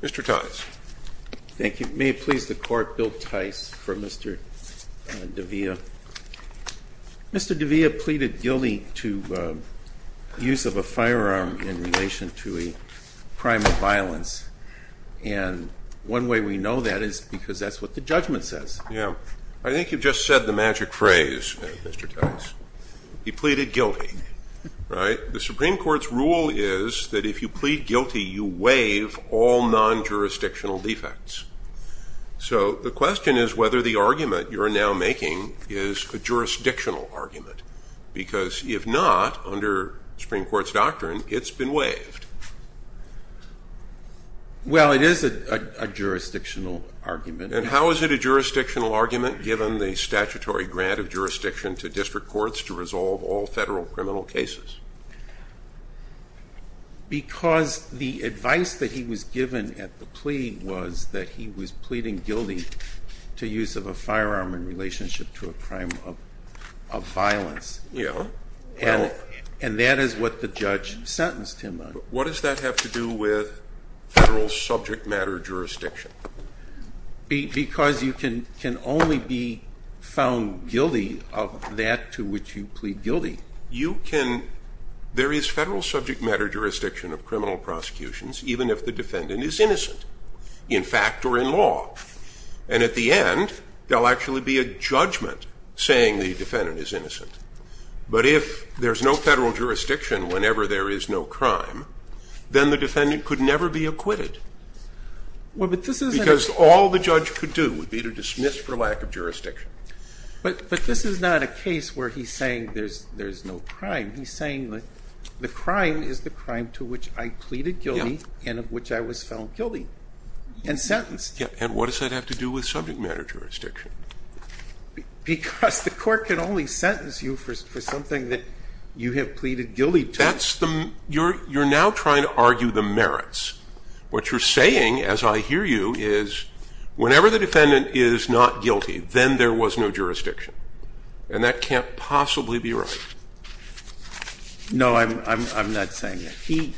Mr. Tice. Thank you. May it please the court, Bill Tice for Mr. Davila. Mr. Davila, by the way, they pleaded guilty to use of a firearm in relation to a crime of violence. And one way we know that is because that's what the judgment says. Yeah. I think you've just said the magic phrase, Mr. Tice. You pleaded guilty, right? The Supreme Court's rule is that if you plead guilty, you waive all non-jurisdictional defects. So the question is whether the argument you're now making is a jurisdictional argument. Because if not, under Supreme Court's doctrine, it's been waived. Well, it is a jurisdictional argument. And how is it a jurisdictional argument given the statutory grant of jurisdiction to district courts to resolve all federal criminal cases? Because the advice that he was given at the plea was that he was pleading guilty to use of a firearm in relationship to a crime of violence. Yeah. And that is what the judge sentenced him on. What does that have to do with federal subject matter jurisdiction? Because you can only be found guilty of that to which you plead guilty. You can, there is federal subject matter jurisdiction of criminal prosecutions even if the defendant is innocent in fact or in law. And at the end, there'll actually be a judgment saying the defendant is innocent. But if there's no federal jurisdiction whenever there is no crime, then the defendant could never be acquitted. Because all the judge could do would be to dismiss for lack of jurisdiction. But this is not a case where he's saying there's no crime. He's saying that the crime is the crime to which I pleaded guilty and of which I was found guilty and sentenced. And what does that have to do with subject matter jurisdiction? Because the court can only sentence you for something that you have pleaded guilty to. You're now trying to argue the merits. What you're saying as I hear you is whenever the defendant is not guilty, then there was no jurisdiction. And that can't possibly be right. No, I'm not saying that. He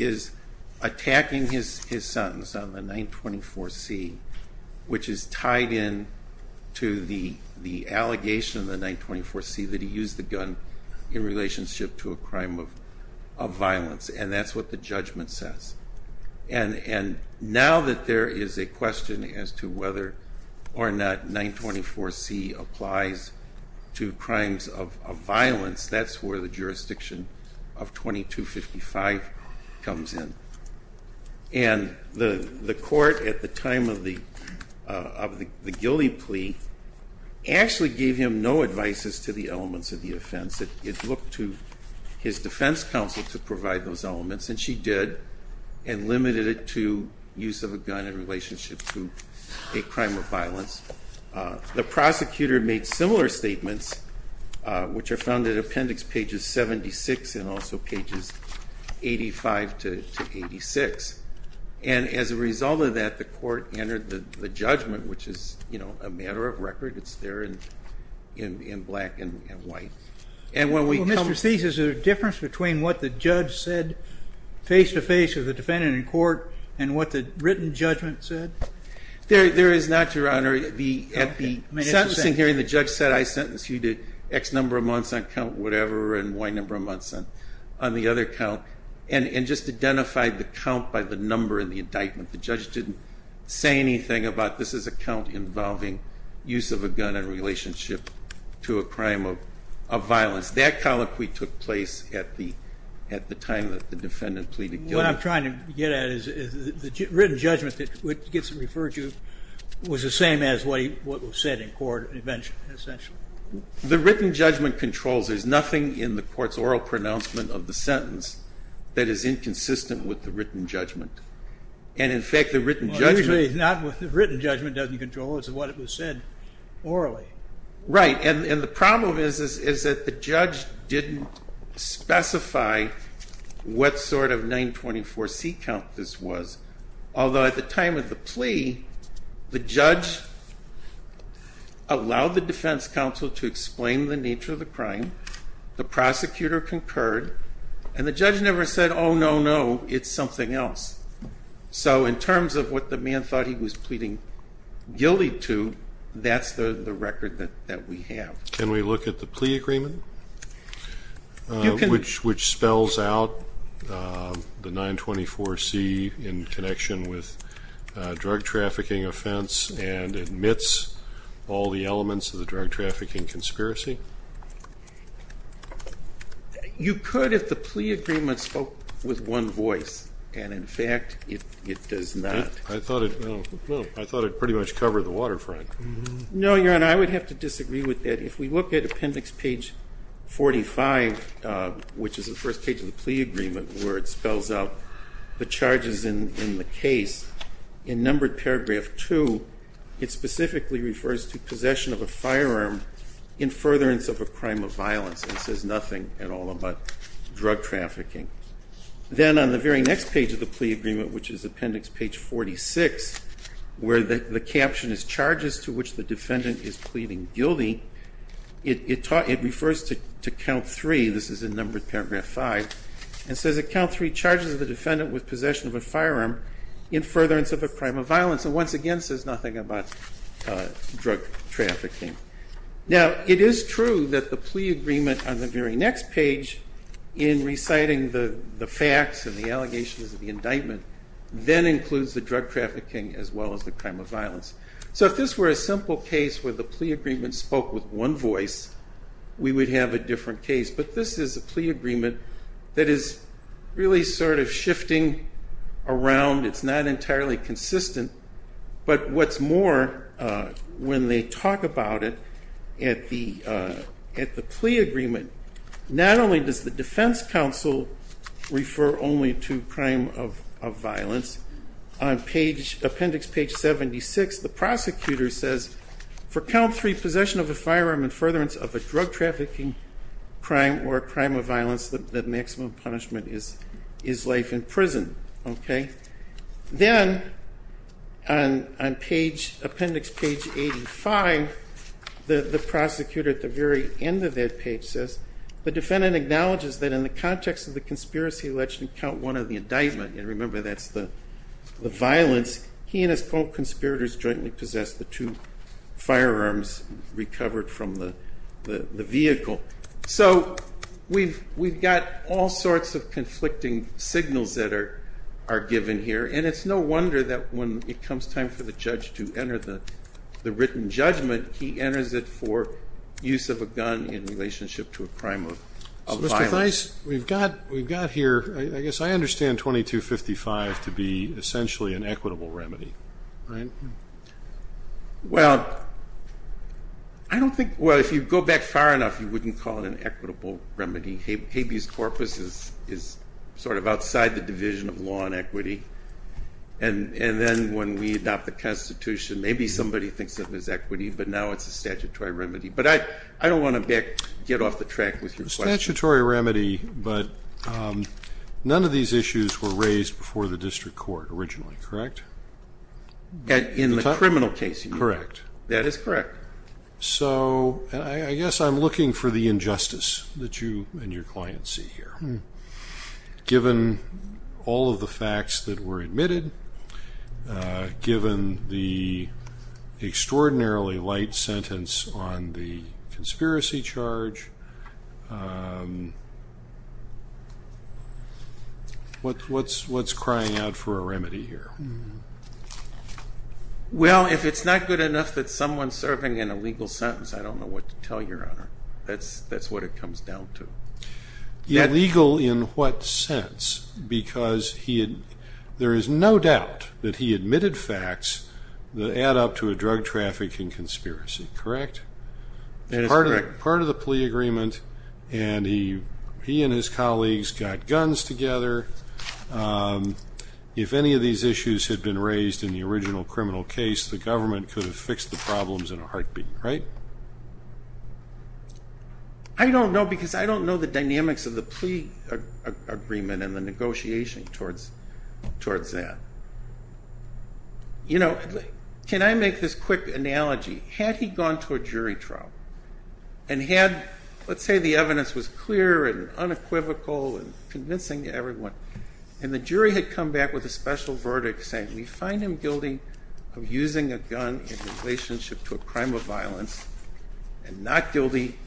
is attacking his sentence on the 924C, which is tied in to the allegation of the 924C that he used the gun in relationship to a crime of violence. And that's what the judgment says. And now that there is a question as to whether or not 924C applies to crimes of violence, that's where the jurisdiction of 2255 comes in. And the court at the time of the Gilly plea actually gave him no advices to the elements of the offense. It looked to his defense counsel to provide those elements. And she did. And limited it to use of a gun in relationship to a crime of violence. The prosecutor made similar statements, which are found in appendix pages 76 and also pages 85 to 86. And as a result of that, the court entered the judgment, which is a matter of record. It's there in black and white. Well, Mr. Steeves, is there a difference between what the judge said face-to-face with the defendant in court and what the written judgment said? There is not, Your Honor. At the sentencing hearing, the judge said, I sentence you to X number of months on count whatever and Y number of months on the other count. And just identified the count by the number in the indictment. The judge didn't say anything about this is a count involving use of a gun in relationship to a crime of violence. That colloquy took place at the time that the defendant pleaded guilty. What I'm trying to get at is the written judgment that gets referred to was the same as what was said in court, essentially. The written judgment controls. There's nothing in the court's oral pronouncement of the sentence that is inconsistent with the written judgment. And in fact, the written judgment usually is not what the written judgment doesn't control. It's what it was said orally. Right. And the problem is that the judge didn't specify what sort of 924C count this was. Although at the time of the plea, the judge allowed the defense counsel to explain the nature of the crime. The prosecutor concurred. And the judge never said, oh, no, no, it's something else. So in terms of what the man thought he was pleading guilty to, that's the record that we have. Can we look at the plea agreement, which spells out the 924C in connection with a drug trafficking offense and admits all the elements of the drug trafficking conspiracy? You could if the plea agreement spoke with one voice. And in fact, it does not. I thought it pretty much covered the waterfront. No, Your Honor. I would have to disagree with that. If we look at appendix page 45, which is the first page of the plea agreement, where it spells out the charges in the case, in numbered paragraph 2, it specifically refers to possession of a firearm in furtherance of a crime of violence and says nothing at all about drug trafficking. Then on the very next page of the plea agreement, which is appendix page 46, where the caption is charges to which the defendant is pleading guilty, it refers to count 3. This is in numbered paragraph 5. It says that count 3 charges the defendant with possession of a firearm in furtherance of a crime of violence and once again says nothing about drug trafficking. Now it is true that the plea agreement on the very next page in reciting the facts and the allegations of the indictment then includes the drug trafficking as well as the crime of violence. So if this were a simple case where the plea agreement spoke with one voice, we would have a different case. But this is a plea agreement that is really sort of shifting around. It's not entirely consistent. But what's more, when they talk about it at the plea agreement, not only does the defense counsel refer only to crime of violence, on page, appendix page 76, the prosecutor says, for count 3, possession of a firearm in furtherance of a drug trafficking crime or crime of violence, the maximum punishment is life in prison. Then on page, appendix page 85, the prosecutor at the very end of that page says, the defendant acknowledges that in the context of the conspiracy alleged in count 1 of the indictment, and remember that's the violence, he and his co-conspirators jointly possessed the two firearms recovered from the vehicle. So we've got all sorts of conflicting signals that are given here. And it's no wonder that when it comes time for the judge to enter the written judgment, he enters it for use of a gun in relationship to a crime of violence. Mr. Theis, we've got here, I guess I understand 2255 to be essentially an equitable remedy, right? Well, I don't think, well, if you go back far enough, you wouldn't call it an equitable remedy. Habeas corpus is sort of outside the division of law and equity. And then when we adopt the Constitution, maybe somebody thinks of it as equity, but now it's a statutory remedy. But I don't want to get off the track with your question. Statutory remedy, but none of these issues were raised before the district court originally, correct? In the criminal case, you mean? Correct. That is correct. So I guess I'm looking for the injustice that you and your client see here. Given all of the facts that were admitted, given the extraordinarily light sentence on the conspiracy charge, what's crying out for a remedy here? Well, if it's not good enough that someone's serving an illegal sentence, I don't know what to tell your Honor. That's what it comes down to. Illegal in what sense? Because there is no doubt that he admitted facts that add up to a drug trafficking conspiracy, correct? That is correct. Part of the plea agreement, and he and his colleagues got guns together. If any of these issues had been raised in the original criminal case, the government could have fixed the problems in a heartbeat, right? I don't know, because I don't know the dynamics of the plea agreement and the negotiation towards that. You know, can I make this quick analogy? Had he gone to a jury trial, and had, let's say the evidence was clear and unequivocal and convincing to everyone, and the jury had come back with a special verdict saying, we find him guilty of using a gun in relationship to a crime of violence, and not guilty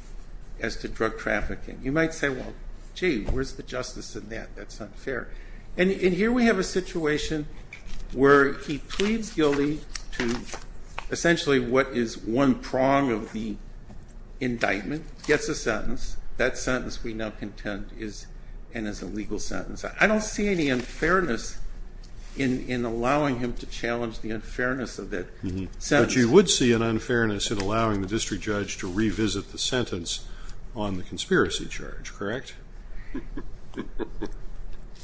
as to drug trafficking. You might say, well, gee, where's the justice in that? That's unfair. And here we have a situation where he pleads guilty to essentially what is one prong of the indictment. Gets a sentence. That sentence we now contend is an illegal sentence. I don't see any unfairness in allowing him to challenge the unfairness of that sentence. But you would see an unfairness in allowing the district judge to revisit the sentence on the conspiracy charge, correct?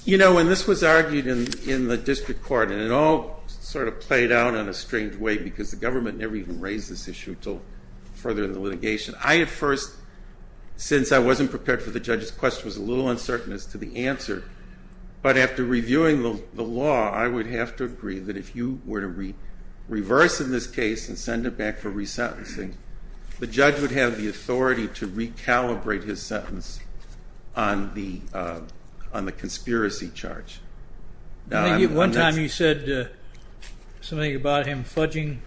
You know, when this was argued in the district court, and it all sort of played out in a strange way because the government never even raised this issue until further in the litigation, I at first, since I wasn't prepared for the judge's question, was a little uncertain as to the answer. But after reviewing the law, I would have to agree that if you were to reverse in this case and send it back for resentencing, the judge would have the authority to recalibrate his sentence on the conspiracy charge. One time you said something about him fudging.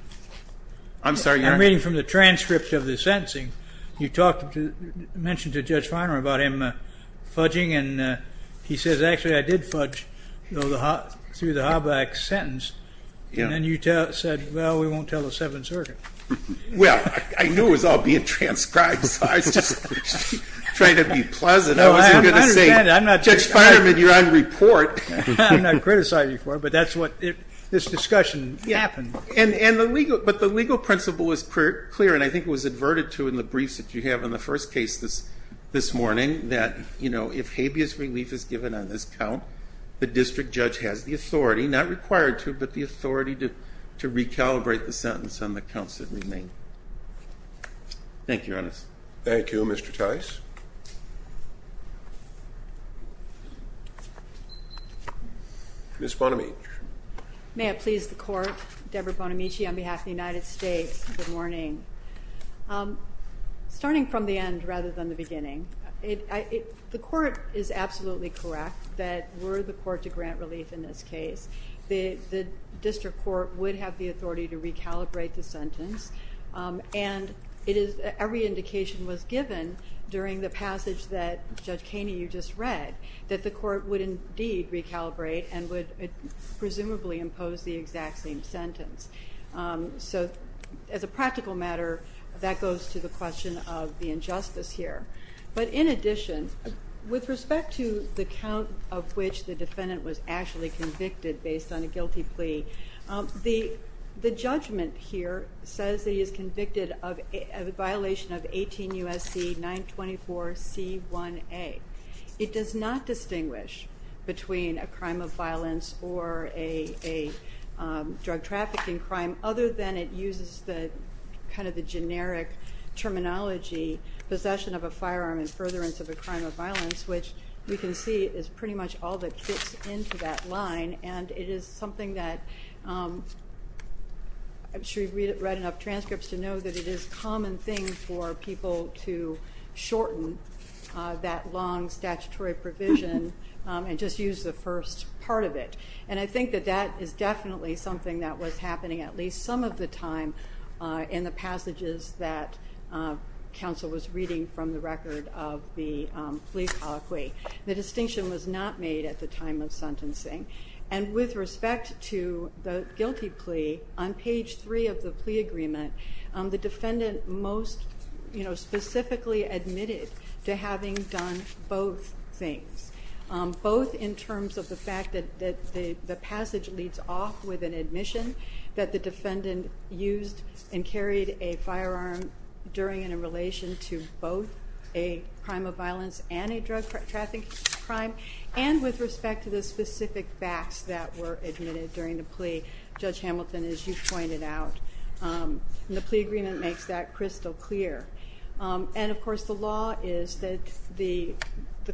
I'm sorry, your Honor? I'm reading from the transcript of the sentencing. You mentioned to Judge Feinerman about him fudging and he says, actually, I did fudge through the Hoback sentence. And then you said, well, we won't tell the Seventh Circuit. Well, I knew it was all being transcribed, so I was just trying to be pleasant. I wasn't going to say, Judge Feinerman, you're on report. I'm not criticizing you for it, but that's what this discussion happened. But the legal principle was clear, and I think it was adverted to in the briefs that you have in the first case this morning, that if habeas relief is given on this count, the district judge has the authority, not required to, but the authority to recalibrate the sentence on the counts that remain. Thank you, Your Honor. Thank you, Mr. Tice. Ms. Bonamici. May it please the Court. Deborah Bonamici on behalf of the United States. Good morning. Starting from the end rather than the beginning, the Court is absolutely correct that were the Court to grant relief in this case, the district court would have the authority to recalibrate the sentence. And every indication was given during the passage that, Judge Kaney, you just read, that the Court would indeed recalibrate and would presumably impose the exact same sentence. So as a practical matter, that goes to the question of the injustice here. But in addition, with respect to the count of which the defendant was actually convicted based on a guilty plea, the judgment here says that he is convicted of a violation of 18 U.S.C. 924C1A. It does not distinguish between a crime of violence or a drug trafficking crime other than it uses the, kind of the generic terminology, possession of a firearm and furtherance of a crime of violence, which we can see is pretty much all that fits into that line. And it is something that, I'm sure you've read enough transcripts to know that it is a common thing for people to shorten that long statutory provision and just use the first part of it. And I think that that is definitely something that was happening at least some of the time in the passages that counsel was reading from the record of the plea colloquy. The distinction was not made at the time of sentencing. And with respect to the guilty plea, on page 3 of the plea agreement, the defendant most specifically admitted to having done both things. Both in terms of the fact that the passage leads off with an admission that the defendant used and carried a firearm during and in relation to both a crime of violence and a drug trafficking crime, and with respect to the specific facts that were admitted during the plea. Judge Hamilton, as you pointed out, the plea agreement makes that crystal clear. And of course the law is that the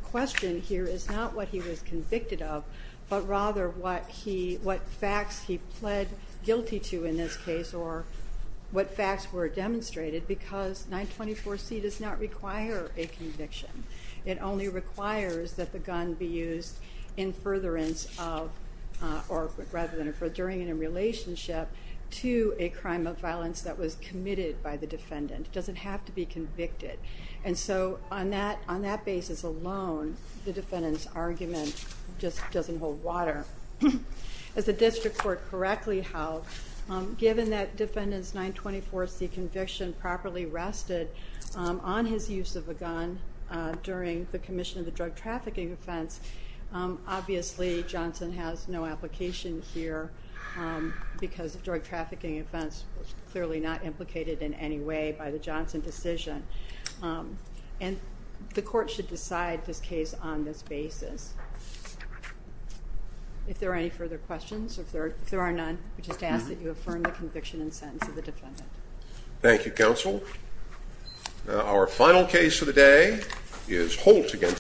question here is not what he was convicted of, but rather what he, what facts he pled guilty to in this case or what facts were demonstrated because 924C does not require a conviction. It only requires that the gun be used in furtherance of, or rather than in furthering in a relationship to a crime of violence that was committed by the defendant. It doesn't have to be convicted. And so on that basis alone, the defendant's argument just doesn't hold water. As the district court correctly held, given that defendant's 924C conviction properly rested on his use of a gun during the commission of the drug trafficking offense, obviously Johnson has no application here because the drug trafficking offense was clearly not implicated in any way by the Johnson decision. And the court should decide this case on this basis. If there are any further questions, if there are none, I just ask that you affirm the conviction and sentence of the defendant. Thank you, counsel. Our final case of the day is Holt